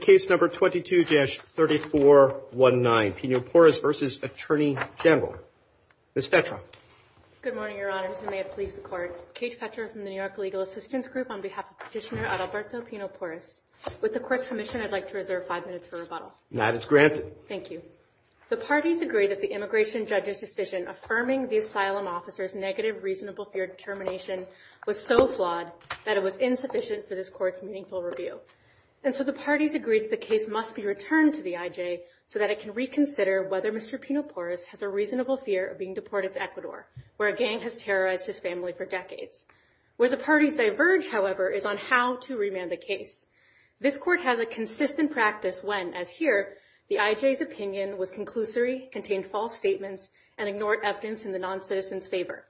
Case No. 22-3419 Pino Porras v. Attorney General Ms. Fetra Good morning, Your Honors, and may it please the Court. Kate Fetra from the New York Legal Assistance Group on behalf of Petitioner Adalberto Pino Porras. With the Court's permission, I'd like to reserve five minutes for rebuttal. That is granted. Thank you. The parties agree that the immigration judge's decision affirming the asylum officer's negative reasonable fear determination was so flawed that it was insufficient for this Court's meaningful review. And so the parties agree that the case must be returned to the IJ so that it can reconsider whether Mr. Pino Porras has a reasonable fear of being deported to Ecuador, where a gang has terrorized his family for decades. Where the parties diverge, however, is on how to remand the case. This Court has a consistent practice when, as here, the IJ's opinion was conclusory, contained false statements, and ignored evidence in the noncitizen's favor.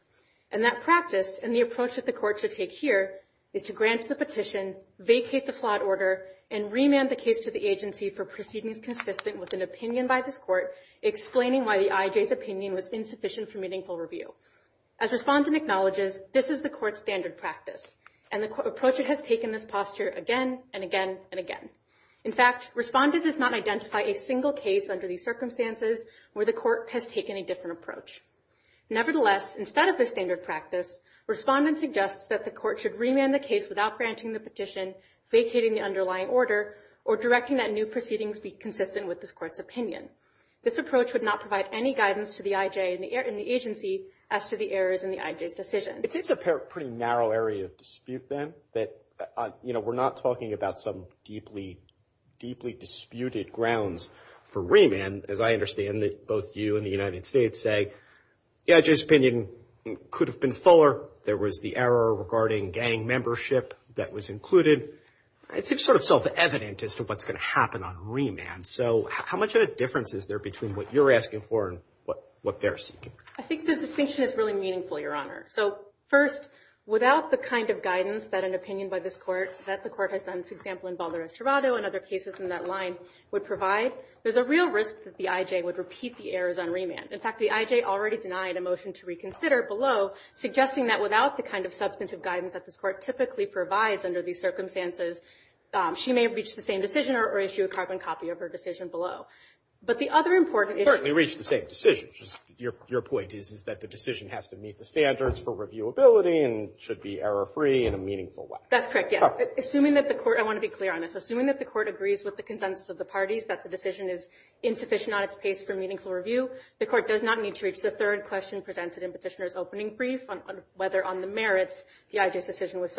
And that practice, and the approach that the Court should take here, is to grant the petition, vacate the flawed order, and remand the case to the agency for proceedings consistent with an opinion by this Court, explaining why the IJ's opinion was insufficient for meaningful review. As Respondent acknowledges, this is the Court's standard practice. And the Court has taken this posture again and again and again. In fact, Respondent does not identify a single case under these circumstances where the Court has taken a different approach. Nevertheless, instead of this standard practice, Respondent suggests that the Court should remand the case without granting the petition, vacating the underlying order, or directing that new proceedings be consistent with this Court's opinion. This approach would not provide any guidance to the IJ and the agency as to the errors in the IJ's decision. It seems a pretty narrow area of dispute, then, that, you know, we're not talking about some deeply, deeply disputed grounds for remand, as I understand that both you and the United States say. The IJ's opinion could have been fuller. There was the error regarding gang membership that was included. It seems sort of self-evident as to what's going to happen on remand. So how much of a difference is there between what you're asking for and what they're seeking? I think the distinction is really meaningful, Your Honor. So, first, without the kind of guidance that an opinion by this Court, that the Court has done, for example, in Balderas-Travado and other cases in that line, would provide, there's a real risk that the IJ would repeat the errors on remand. In fact, the IJ already denied a motion to reconsider below, suggesting that without the kind of substantive guidance that this Court typically provides under these circumstances, she may have reached the same decision or issue a carbon copy of her decision below. But the other important issue — Certainly reached the same decision. Your point is that the decision has to meet the standards for reviewability and should be error-free in a meaningful way. That's correct, yes. Assuming that the Court — I want to be clear on this. Assuming that the Court agrees with the consensus of the parties, that the decision is insufficient on its pace for meaningful review, the Court does not need to reach the third question presented in Petitioner's opening brief on whether, on the merits, the IJ's decision was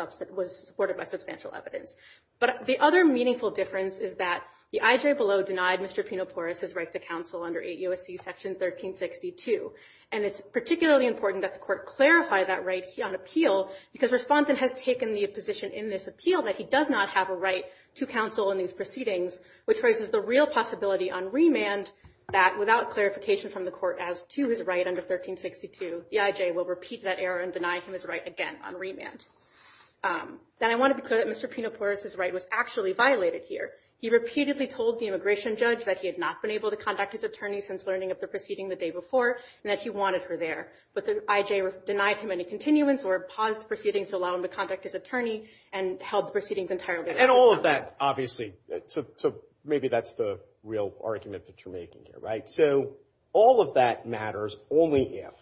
supported by substantial evidence. But the other meaningful difference is that the IJ below denied Mr. Pinopores's right to counsel under 8 U.S.C. Section 1362. And it's particularly important that the Court clarify that right on appeal, because Respondent has taken the position in this appeal that he does not have a right to counsel in these proceedings, which raises the real possibility on remand that, without clarification from the Court as to his right under 1362, the IJ will repeat that error and deny him his right again on remand. Then I want to be clear that Mr. Pinopores's right was actually violated here. He repeatedly told the immigration judge that he had not been able to contact his attorney since learning of the proceeding the day before and that he wanted her there. But the IJ denied him any continuance or paused the proceedings to allow him to contact his attorney and held the proceedings entirely. And all of that, obviously, so maybe that's the real argument that you're making here. Right? So all of that matters only if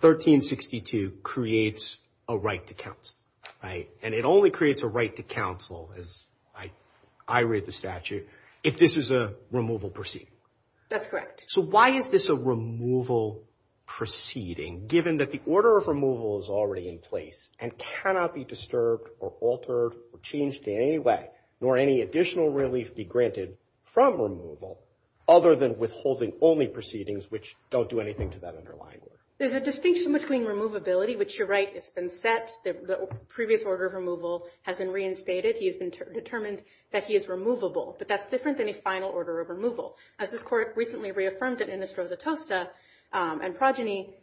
1362 creates a right to counsel, right? And it only creates a right to counsel, as I read the statute, if this is a removal proceeding. That's correct. So why is this a removal proceeding, given that the order of removal is already in place and cannot be disturbed or altered or changed in any way, nor any additional relief be granted from removal, other than withholding only proceedings, which don't do anything to that underlying order? There's a distinction between removability, which you're right, it's been set. The previous order of removal has been reinstated. He has been determined that he is removable. But that's different than a final order of removal. As this Court recently reaffirmed in Innistrosa Tosta and Progeny,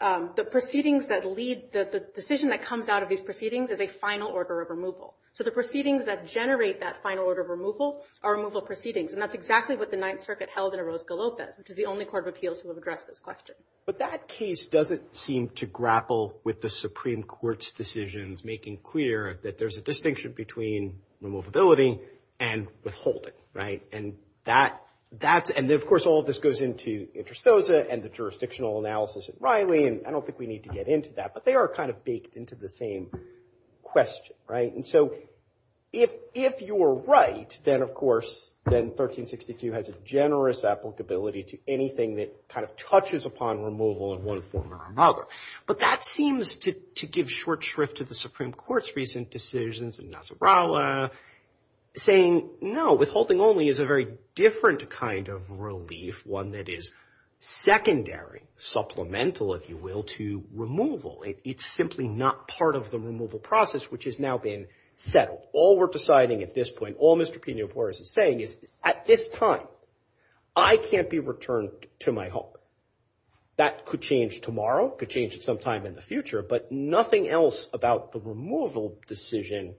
the proceedings that lead, the decision that comes out of these proceedings is a final order of removal. So the proceedings that generate that final order of removal are removal proceedings. And that's exactly what the Ninth Circuit held in Orozco-Lopez, which is the only court of appeals to have addressed this question. But that case doesn't seem to grapple with the Supreme Court's decisions making clear that there's a distinction between removability and withholding, right? And that's, and of course, all of this goes into Innistrosa and the jurisdictional analysis at Riley, and I don't think we need to get into that. But they are kind of baked into the same question, right? And so if you're right, then, of course, then 1362 has a generous applicability to anything that kind of touches upon removal in one form or another. But that seems to give short shrift to the Supreme Court's recent decisions in Nasrallah saying, no, withholding only is a very different kind of relief, one that is secondary, supplemental, if you will, to removal. It's simply not part of the removal process, which has now been settled. All we're deciding at this point, all Mr. Pena-Pores is saying is, at this time, I can't be returned to my home. That could change tomorrow, could change at some time in the future. But nothing else about the removal decision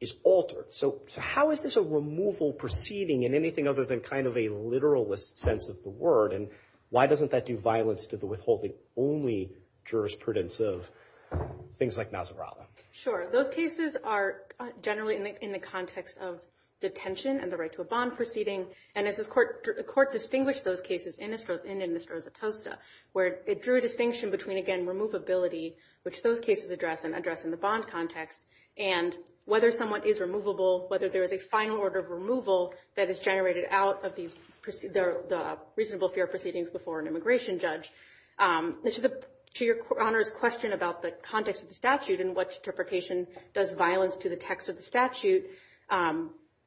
is altered. So how is this a removal proceeding in anything other than kind of a literalist sense of the word? And why doesn't that do violence to the withholding only jurisprudence of things like Nasrallah? Sure. Those cases are generally in the context of detention and the right to a bond proceeding. And as the court distinguished those cases in Innistrosa-Tosta, where it drew a distinction between, again, removability, which those cases address and address in the bond context, and whether someone is removable, whether there is a final order of removal that is generated out of the reasonable fair proceedings before an immigration judge. To Your Honor's question about the context of the statute and what interpretation does violence to the text of the statute,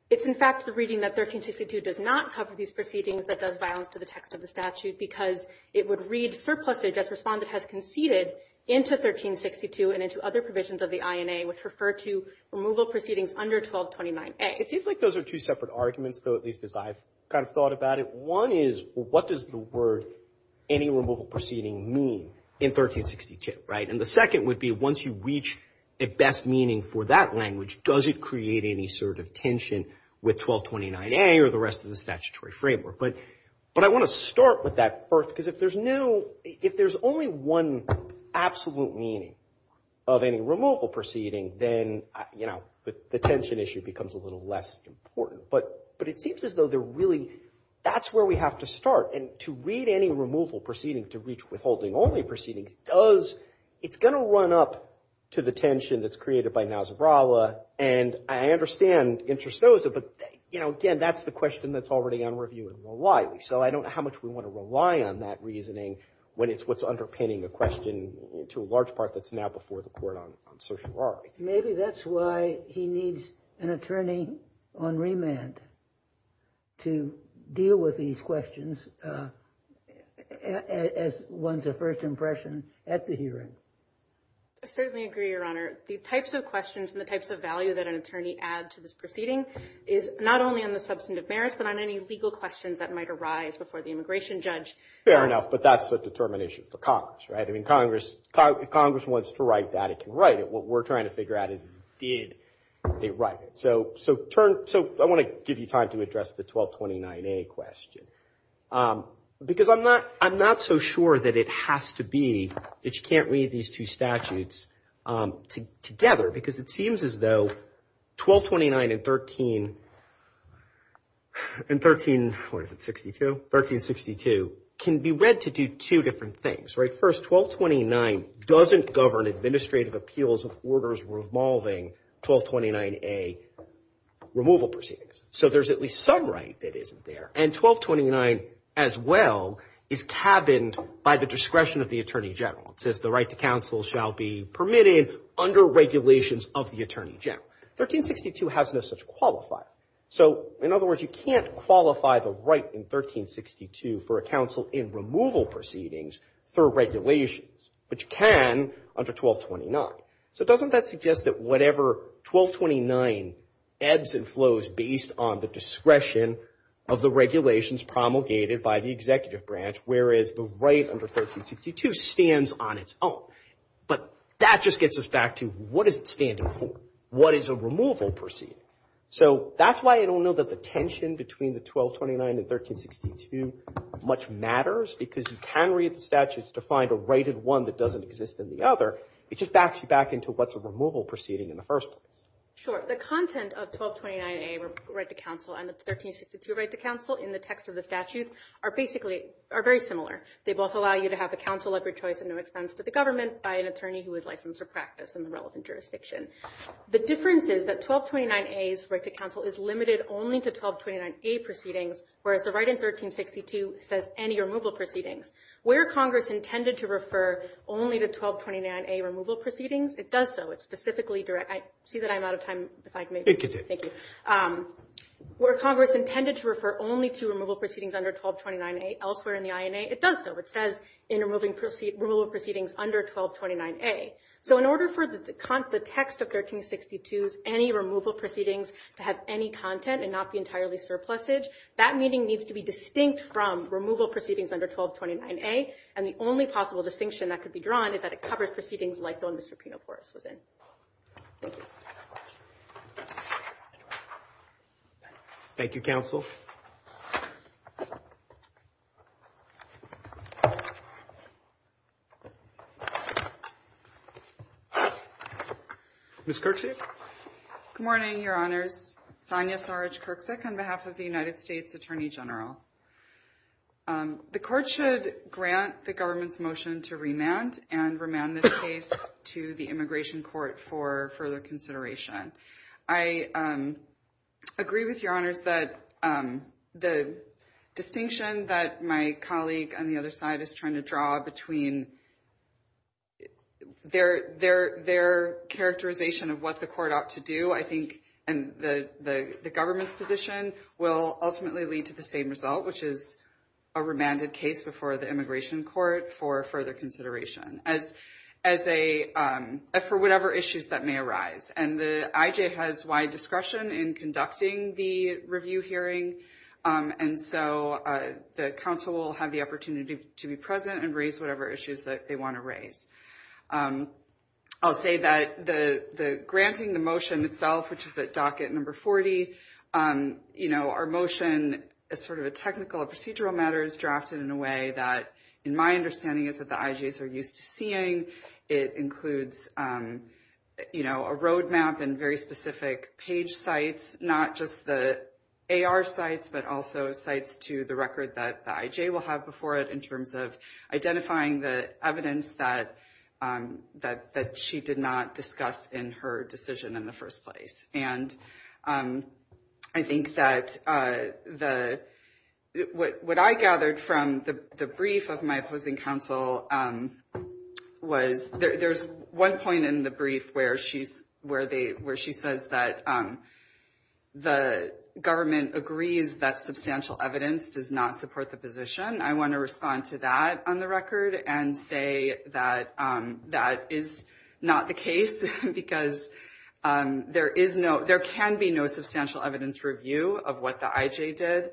it's, in fact, the reading that 1362 does not cover these proceedings that does violence to the text of the statute because it would read surplusage as respondent has conceded into 1362 and into other provisions of the INA, which refer to removal proceedings under 1229A. It seems like those are two separate arguments, though, at least as I've kind of thought about it. One is what does the word any removal proceeding mean in 1362, right? And the second would be once you reach a best meaning for that language, does it create any sort of tension with 1229A or the rest of the statutory framework? But I want to start with that first because if there's no ‑‑ if there's only one absolute meaning of any removal proceeding, then, you know, the tension issue becomes a little less important. But it seems as though they're really ‑‑ that's where we have to start. And to read any removal proceeding to reach withholding only proceedings does ‑‑ it's going to run up to the tension that's created by Nasrallah. And I understand Interstosa, but, you know, again, that's the question that's already on review in Raleigh. So I don't know how much we want to rely on that reasoning when it's what's underpinning the question to a large part that's now before the court on certiorari. Maybe that's why he needs an attorney on remand to deal with these questions as one's first impression at the hearing. I certainly agree, Your Honor. The types of questions and the types of value that an attorney add to this proceeding is not only on the substantive merits but on any legal questions that might arise before the immigration judge. Fair enough, but that's a determination for Congress, right? I mean, Congress wants to write that. It can write it. What we're trying to figure out is did they write it? So I want to give you time to address the 1229A question because I'm not so sure that it has to be that you can't read these two statutes together because it seems as though 1229 and 13 and 13, what is it, 62? 1362 can be read to do two different things, right? First, 1229 doesn't govern administrative appeals of orders revolving 1229A removal proceedings. So there's at least some right that isn't there. And 1229 as well is cabined by the discretion of the Attorney General. It says the right to counsel shall be permitted under regulations of the Attorney General. 1362 has no such qualifier. So, in other words, you can't qualify the right in 1362 for a counsel in removal proceedings through regulations. But you can under 1229. So doesn't that suggest that whatever 1229 ebbs and flows based on the discretion of the regulations promulgated by the executive branch, whereas the right under 1362 stands on its own. But that just gets us back to what is it standing for? What is a removal proceeding? So that's why I don't know that the tension between the 1229 and 1362 much matters because you can read the statutes to find a right in one that doesn't exist in the other. It just backs you back into what's a removal proceeding in the first place. Sure. The content of 1229A right to counsel and the 1362 right to counsel in the text of the statutes are basically are very similar. They both allow you to have a counsel of your choice at no expense to the government by an attorney who is licensed for practice in the relevant jurisdiction. The difference is that 1229A's right to counsel is limited only to 1229A proceedings, whereas the right in 1362 says any removal proceedings. Where Congress intended to refer only to 1229A removal proceedings, it does so. It's specifically direct. I see that I'm out of time, if I can make it. You can take it. Thank you. Where Congress intended to refer only to removal proceedings under 1229A elsewhere in the INA, it does so. It says in removal proceedings under 1229A. So in order for the text of 1362's any removal proceedings to have any content and not be entirely surplusage, that meeting needs to be distinct from removal proceedings under 1229A. And the only possible distinction that could be drawn is that it covers proceedings like the one Mr. Pinoforis was in. Thank you. Thank you, counsel. Ms. Kirksick. Good morning, Your Honors. My name is Sonya Sarge Kirksick on behalf of the United States Attorney General. The court should grant the government's motion to remand and remand this case to the Immigration Court for further consideration. I agree with Your Honors that the distinction that my colleague on the other side is trying to draw between their characterization of what the court ought to do, I think, and the government's position will ultimately lead to the same result, which is a remanded case before the Immigration Court for further consideration for whatever issues that may arise. And the IJ has wide discretion in conducting the review hearing, and so the counsel will have the opportunity to be present and raise whatever issues that they want to raise. I'll say that the granting the motion itself, which is at docket number 40, our motion is sort of a technical procedural matter is drafted in a way that in my understanding is that the IJs are used to seeing. It includes a roadmap and very specific page sites, not just the AR sites, but also sites to the record that the IJ will have before it in terms of identifying the evidence that she did not discuss in her decision in the first place. And I think that what I gathered from the brief of my opposing counsel was there's one point in the brief where she says that the government agrees that substantial evidence does not support the position. I want to respond to that on the record and say that that is not the case, because there can be no substantial evidence review of what the IJ did,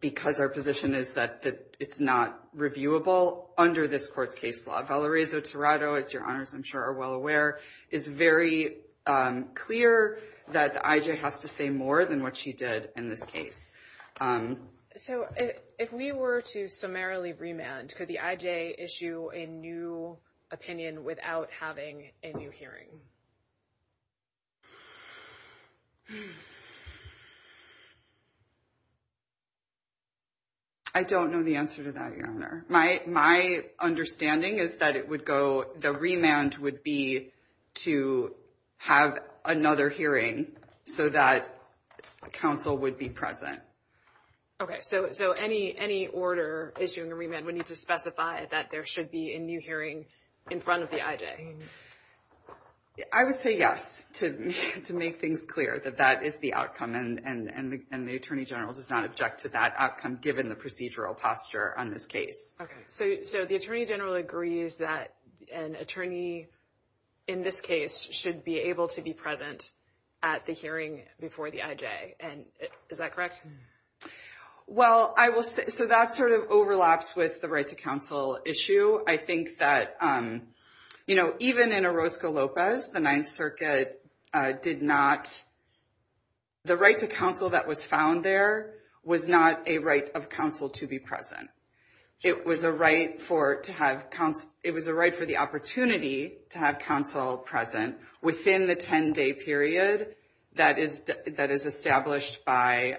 because our position is that it's not reviewable under this court's case law. If Ella Reyes-Oterado, as your honors I'm sure are well aware, is very clear that the IJ has to say more than what she did in this case. So if we were to summarily remand, could the IJ issue a new opinion without having a new hearing? I don't know the answer to that, your honor. My understanding is that the remand would be to have another hearing so that counsel would be present. Okay, so any order issuing a remand would need to specify that there should be a new hearing in front of the IJ. I would say yes to make things clear that that is the outcome, and the attorney general does not object to that outcome given the procedural posture on this case. Okay, so the attorney general agrees that an attorney in this case should be able to be present at the hearing before the IJ. Is that correct? Well, I will say, so that sort of overlaps with the right to counsel issue. I think that even in Orozco-Lopez, the Ninth Circuit did not, the right to counsel that was found there was not a right of counsel to be present. It was a right for the opportunity to have counsel present within the 10-day period that is established by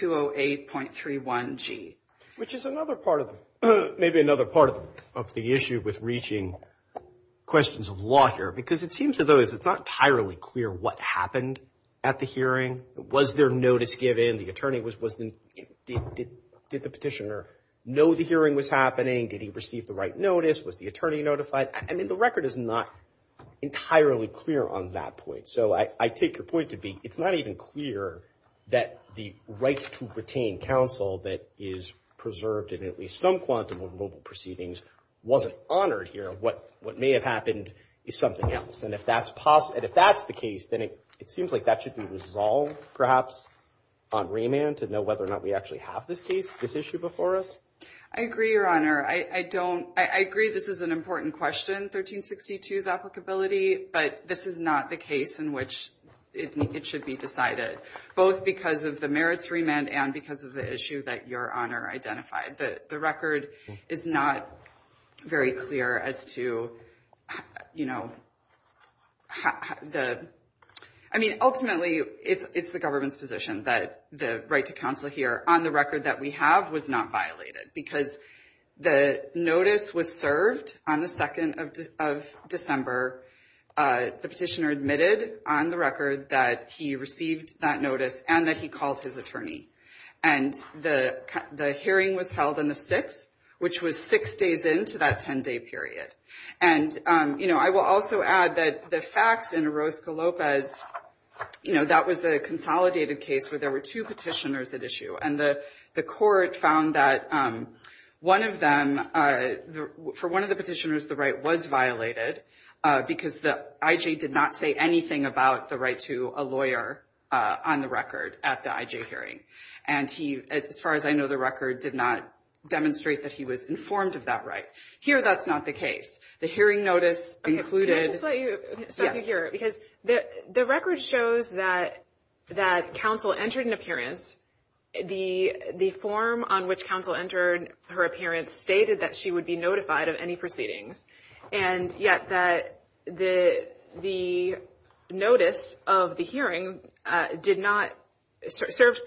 208.31G. Which is another part of, maybe another part of the issue with reaching questions of law here, because it seems to those it's not entirely clear what happened at the hearing. Was there notice given? The attorney was, did the petitioner know the hearing was happening? Did he receive the right notice? Was the attorney notified? I mean, the record is not entirely clear on that point. So I take your point to be, it's not even clear that the right to retain counsel that is preserved in at least some quantum of mobile proceedings wasn't honored here. What may have happened is something else. And if that's the case, then it seems like that should be resolved, perhaps, on remand to know whether or not we actually have this case, this issue before us. I agree, Your Honor. I don't, I agree this is an important question, 1362's applicability. But this is not the case in which it should be decided, both because of the merits remand and because of the issue that Your Honor identified. The record is not very clear as to, you know, the, I mean, ultimately it's the government's position that the right to counsel here on the record that we have was not violated. Because the notice was served on the 2nd of December. The petitioner admitted on the record that he received that notice and that he called his attorney. And the hearing was held on the 6th, which was six days into that 10-day period. And, you know, I will also add that the facts in Orozco-Lopez, you know, that was a consolidated case where there were two petitioners at issue. And the court found that one of them, for one of the petitioners, the right was violated because the I.J. did not say anything about the right to a lawyer on the record at the I.J. hearing. And he, as far as I know, the record did not demonstrate that he was informed of that right. Here that's not the case. The hearing notice included. Can I just let you hear it? Yes. Because the record shows that counsel entered an appearance. The form on which counsel entered her appearance stated that she would be notified of any proceedings. And yet that the notice of the hearing did not, served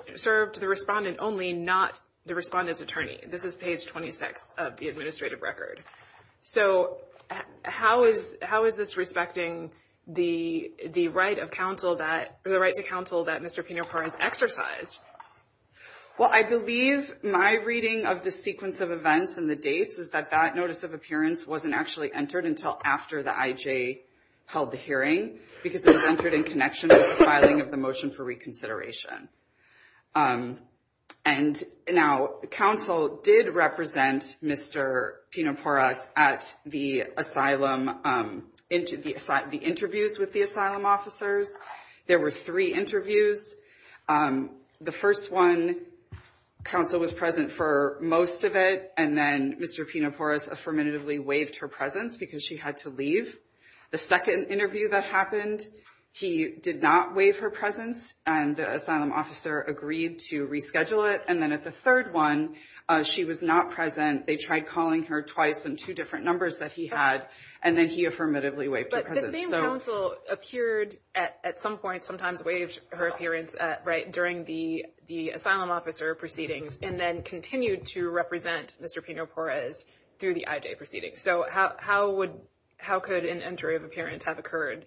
the respondent only, not the respondent's attorney. This is page 26 of the administrative record. So how is this respecting the right to counsel that Mr. Pinopar has exercised? Well, I believe my reading of the sequence of events and the dates is that that notice of appearance wasn't actually entered until after the I.J. held the hearing because it was entered in connection with the filing of the motion for reconsideration. And now counsel did represent Mr. Pinoparas at the asylum, into the interviews with the asylum officers. There were three interviews. The first one, counsel was present for most of it. And then Mr. Pinoparas affirmatively waived her presence because she had to leave. The second interview that happened, he did not waive her presence. And the asylum officer agreed to reschedule it. And then at the third one, she was not present. They tried calling her twice in two different numbers that he had. And then he affirmatively waived her presence. But the same counsel appeared at some point, sometimes waived her appearance, right, during the asylum officer proceedings and then continued to represent Mr. Pinoparas through the I.J. proceedings. Okay, so how could an entry of appearance have occurred?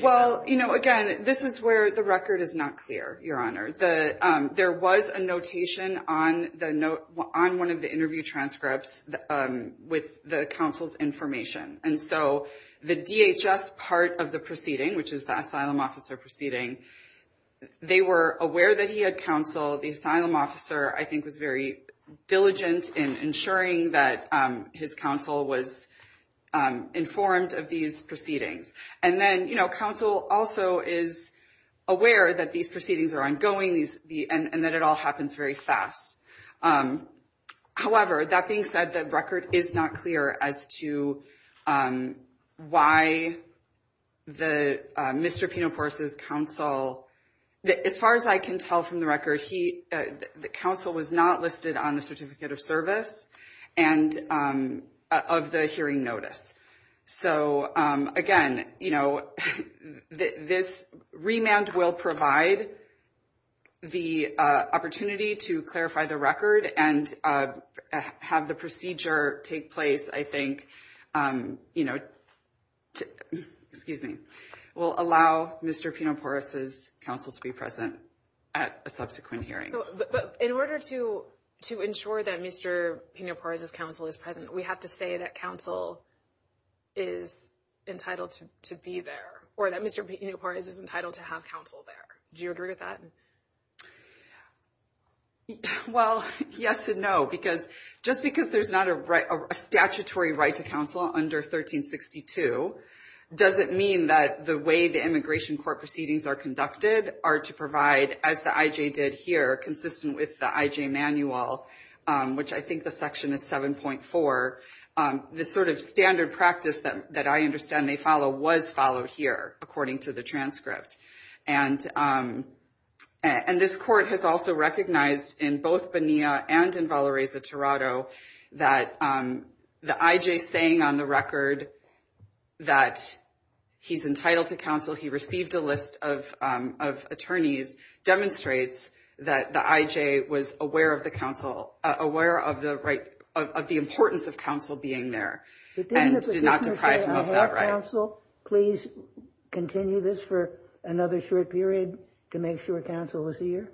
Well, you know, again, this is where the record is not clear, Your Honor. There was a notation on one of the interview transcripts with the counsel's information. And so the DHS part of the proceeding, which is the asylum officer proceeding, they were aware that he had counsel. The asylum officer, I think, was very diligent in ensuring that his counsel was informed of these proceedings. And then, you know, counsel also is aware that these proceedings are ongoing and that it all happens very fast. However, that being said, the record is not clear as to why Mr. Pinoparas' counsel, as far as I can tell from the record, the counsel was not listed on the certificate of service and of the hearing notice. So, again, you know, this remand will provide the opportunity to clarify the record and have the procedure take place, I think, you know, excuse me, will allow Mr. Pinoparas' counsel to be present at a subsequent hearing. But in order to ensure that Mr. Pinoparas' counsel is present, we have to say that counsel is entitled to be there or that Mr. Pinoparas is entitled to have counsel there. Do you agree with that? Well, yes and no, because just because there's not a statutory right to counsel under 1362 doesn't mean that the way the immigration court proceedings are conducted are to provide, as the IJ did here, consistent with the IJ manual, which I think the section is 7.4, the sort of standard practice that I understand may follow was followed here, according to the transcript. And this court has also recognized in both Bonilla and in Valparaiso, Toronto, that the IJ saying on the record that he's entitled to counsel, he received a list of attorneys, demonstrates that the IJ was aware of the importance of counsel being there and did not deprive him of that right. Counsel, please continue this for another short period to make sure counsel is here.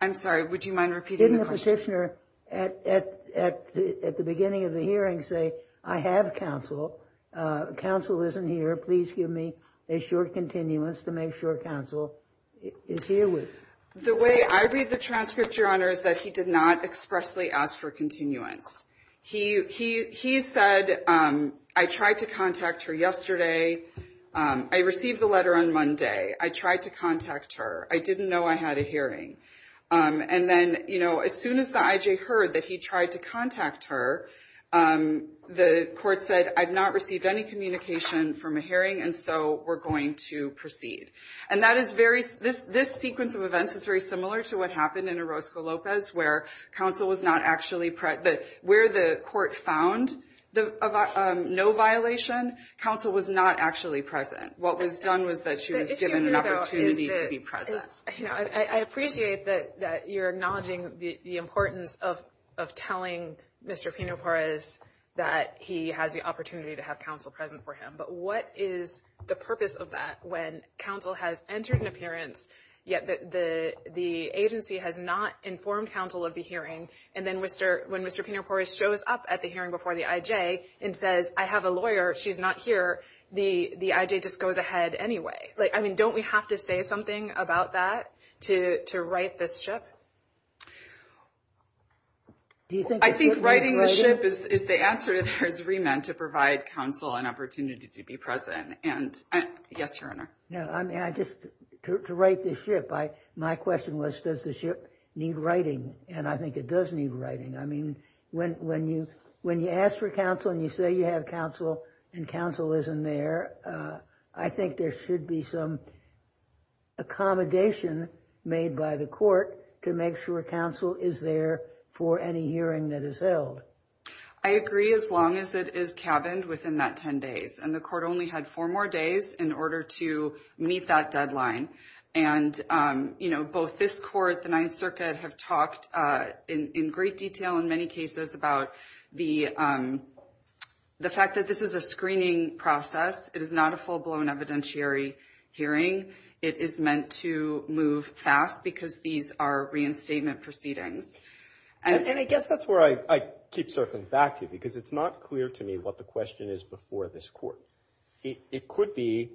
I'm sorry, would you mind repeating the question? Didn't the petitioner at the beginning of the hearing say, I have counsel. Counsel isn't here. Please give me a short continuance to make sure counsel is here. The way I read the transcript, Your Honor, is that he did not expressly ask for continuance. He said, I tried to contact her yesterday. I received the letter on Monday. I tried to contact her. I didn't know I had a hearing. And then, you know, as soon as the IJ heard that he tried to contact her, the court said, I've not received any communication from a hearing, and so we're going to proceed. And this sequence of events is very similar to what happened in Orozco-Lopez, where counsel was not actually present. Where the court found no violation, counsel was not actually present. What was done was that she was given an opportunity to be present. I appreciate that you're acknowledging the importance of telling Mr. Pino-Perez that he has the opportunity to have counsel present for him. But what is the purpose of that when counsel has entered an appearance, yet the agency has not informed counsel of the hearing, and then when Mr. Pino-Perez shows up at the hearing before the IJ and says, I have a lawyer. She's not here. The IJ just goes ahead anyway. I mean, don't we have to say something about that to right this ship? I think righting the ship is the answer to the remand to provide counsel an opportunity to be present. And yes, Your Honor. No, I mean, I just, to right this ship, my question was, does the ship need righting? And I think it does need righting. I mean, when you ask for counsel and you say you have counsel and counsel isn't there, I think there should be some accommodation made by the court to make sure counsel is there for any hearing that is held. I agree as long as it is cabined within that 10 days. And the court only had four more days in order to meet that deadline. And, you know, both this court, the Ninth Circuit have talked in great detail in many cases about the fact that this is a screening process. It is not a full-blown evidentiary hearing. It is meant to move fast because these are reinstatement proceedings. And I guess that's where I keep circling back to you because it's not clear to me what the question is before this court. It could be,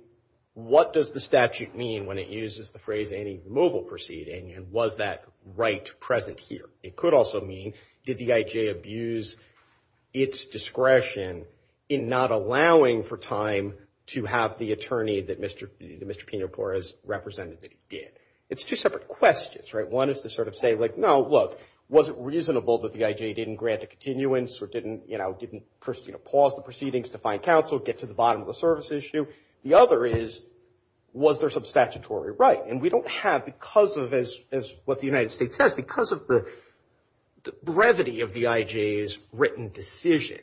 what does the statute mean when it uses the phrase any removal proceeding? And was that right present here? It could also mean, did the IJ abuse its discretion in not allowing for time to have the attorney that Mr. Pino Torres represented that he did? It's two separate questions, right? One is to sort of say, like, no, look, was it reasonable that the IJ didn't grant a continuance or didn't, you know, didn't pause the proceedings to find counsel, get to the bottom of the service issue? The other is, was there some statutory right? And we don't have because of, as what the United States says, because of the brevity of the IJ's written decision.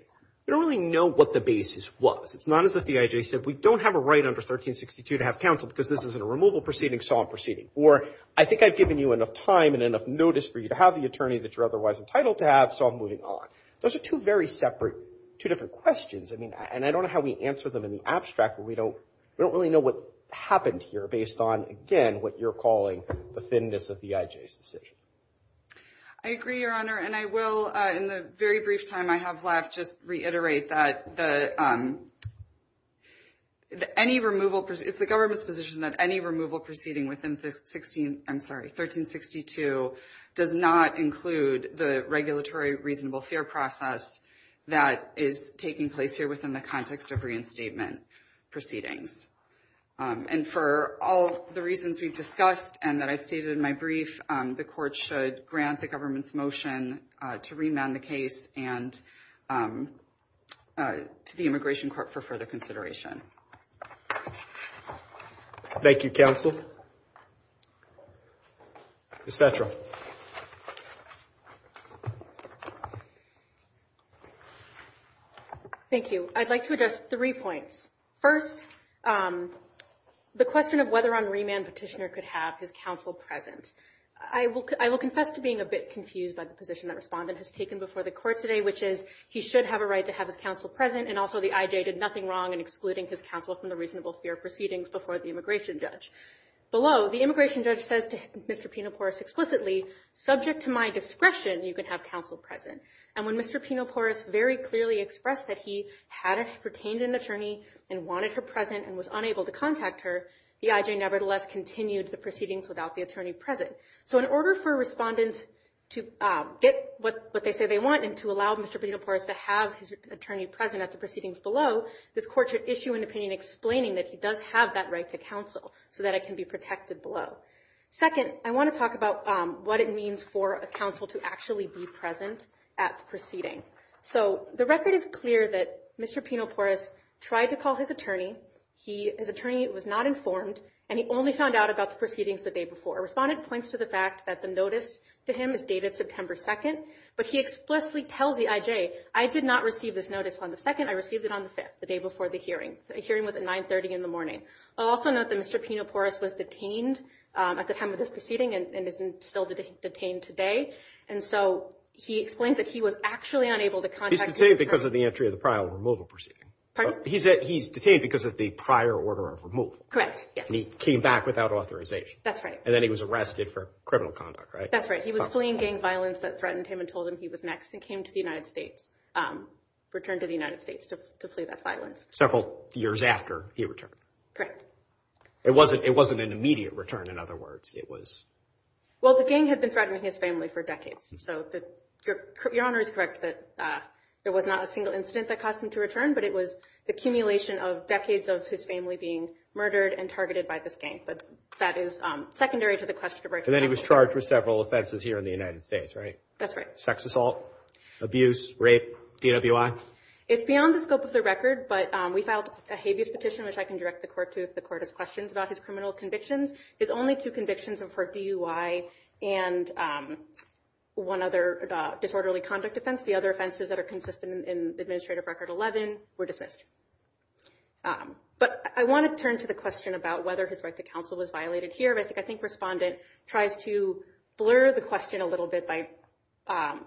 We don't really know what the basis was. It's not as if the IJ said, we don't have a right under 1362 to have counsel because this isn't a removal proceeding, so I'm proceeding. Or, I think I've given you enough time and enough notice for you to have the attorney that you're otherwise entitled to have, so I'm moving on. Those are two very separate, two different questions. I mean, and I don't know how we answer them in the abstract, but we don't really know what happened here based on, again, what you're calling the thinness of the IJ's decision. I agree, Your Honor, and I will, in the very brief time I have left, just reiterate that any removal, it's the government's position that any removal proceeding within 16, I'm sorry, 1362, does not include the regulatory reasonable fair process that is taking place here within the context of reinstatement proceedings. And for all the reasons we've discussed and that I've stated in my brief, the court should grant the government's motion to remand the case and to the immigration court for further consideration. Thank you, counsel. Ms. Fetrow. Thank you. I'd like to address three points. First, the question of whether or not a remand petitioner could have his counsel present. I will confess to being a bit confused by the position that Respondent has taken before the court today, which is he should have a right to have his counsel present, and also the IJ did nothing wrong in excluding his counsel from the reasonable fair proceedings before the immigration judge. Below, the immigration judge says to Mr. Pinoporous explicitly, subject to my discretion, you can have counsel present. And when Mr. Pinoporous very clearly expressed that he had retained an attorney and wanted her present and was unable to contact her, the IJ nevertheless continued the proceedings without the attorney present. So in order for Respondent to get what they say they want and to allow Mr. Pinoporous to have his attorney present at the proceedings below, this court should issue an opinion explaining that he does have that right to counsel so that it can be protected below. Second, I want to talk about what it means for a counsel to actually be present at the proceeding. So the record is clear that Mr. Pinoporous tried to call his attorney. His attorney was not informed, and he only found out about the proceedings the day before. Respondent points to the fact that the notice to him is dated September 2nd, but he explicitly tells the IJ, I did not receive this notice on the 2nd. I received it on the 5th, the day before the hearing. The hearing was at 930 in the morning. I'll also note that Mr. Pinoporous was detained at the time of this proceeding and is still detained today. And so he explains that he was actually unable to contact him. He's detained because of the entry of the prior removal proceeding. He's detained because of the prior order of removal. Correct, yes. And he came back without authorization. That's right. And then he was arrested for criminal conduct, right? That's right. He was fleeing gang violence that threatened him and told him he was next, and came to the United States, returned to the United States to flee that violence. Several years after he returned. Correct. It wasn't an immediate return, in other words. Well, the gang had been threatening his family for decades. So Your Honor is correct that there was not a single incident that caused him to return, but it was the accumulation of decades of his family being murdered and targeted by this gang. But that is secondary to the question. And then he was charged with several offenses here in the United States, right? That's right. Sex assault, abuse, rape, DWI. It's beyond the scope of the record, but we filed a habeas petition, which I can direct the court to if the court has questions about his criminal convictions. His only two convictions were for DUI and one other disorderly conduct offense. The other offenses that are consistent in Administrative Record 11 were dismissed. But I want to turn to the question about whether his right to counsel was violated here. I think Respondent tries to blur the question a little bit by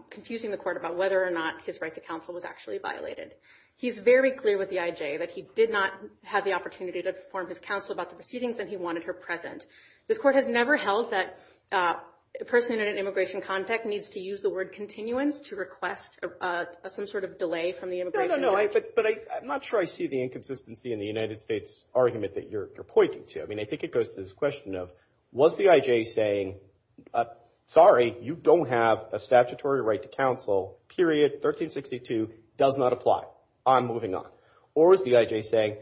confusing the court about whether or not his right to counsel was actually violated. He's very clear with the IJ that he did not have the opportunity to inform his counsel about the proceedings and he wanted her present. This court has never held that a person in an immigration context needs to use the word continuance to request some sort of delay from the immigration judge. No, no, no. But I'm not sure I see the inconsistency in the United States argument that you're pointing to. I mean, I think it goes to this question of was the IJ saying, sorry, you don't have a statutory right to counsel, period, 1362, does not apply. I'm moving on. Or is the IJ saying,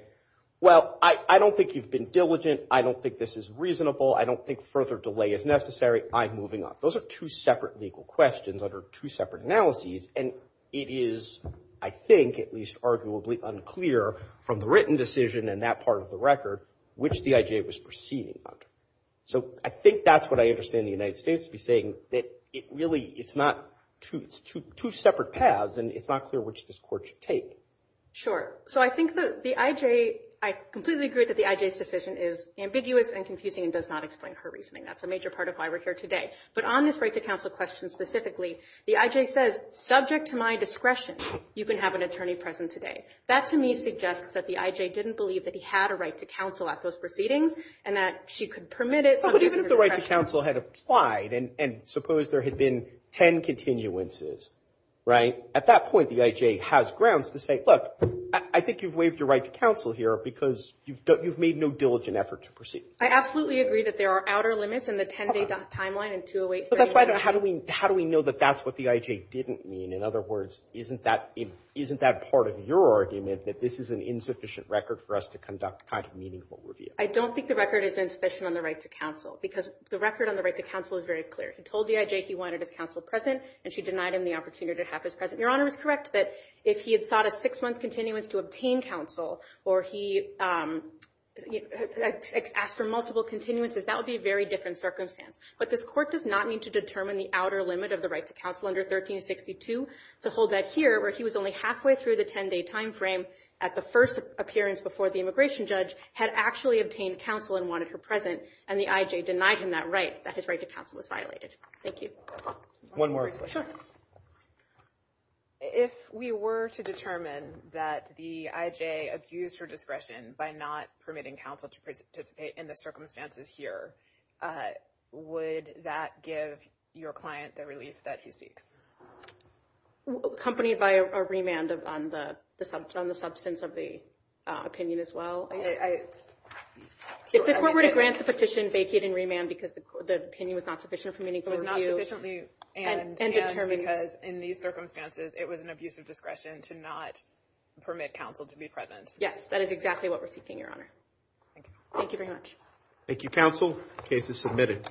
well, I don't think you've been diligent. I don't think this is reasonable. I don't think further delay is necessary. I'm moving on. Those are two separate legal questions under two separate analyses, and it is, I think, at least arguably unclear from the written decision and that part of the record which the IJ was proceeding under. So I think that's what I understand the United States to be saying, that it really, it's not two separate paths and it's not clear which this court should take. Sure. So I think the IJ, I completely agree that the IJ's decision is ambiguous and confusing and does not explain her reasoning. That's a major part of why we're here today. But on this right to counsel question specifically, the IJ says, subject to my discretion, you can have an attorney present today. That, to me, suggests that the IJ didn't believe that he had a right to counsel at those proceedings and that she could permit it. But even if the right to counsel had applied, and suppose there had been ten continuances, right? At that point, the IJ has grounds to say, look, I think you've waived your right to counsel here because you've made no diligent effort to proceed. I absolutely agree that there are outer limits in the 10-day timeline. But that's why, how do we know that that's what the IJ didn't mean? In other words, isn't that part of your argument, that this is an insufficient record for us to conduct a kind of meaningful review? I don't think the record is insufficient on the right to counsel, because the record on the right to counsel is very clear. He told the IJ he wanted his counsel present, and she denied him the opportunity to have his present. Your Honor is correct that if he had sought a six-month continuance to obtain counsel or he asked for multiple continuances, that would be a very different circumstance. But this court does not need to determine the outer limit of the right to counsel under 1362 to hold that here, where he was only halfway through the 10-day timeframe at the first appearance before the immigration judge, had actually obtained counsel and wanted her present, and the IJ denied him that right, that his right to counsel was violated. Thank you. One more question. Sure. If we were to determine that the IJ accused her discretion by not permitting counsel to participate in the circumstances here, would that give your client the relief that he seeks? Accompanied by a remand on the substance of the opinion as well. If the court were to grant the petition, vacate and remand because the opinion was not sufficient for meaningful review. Was not sufficient, and because in these circumstances, it was an abuse of discretion to not permit counsel to be present. Yes, that is exactly what we're seeking, Your Honor. Thank you very much. Thank you, counsel. Case is submitted.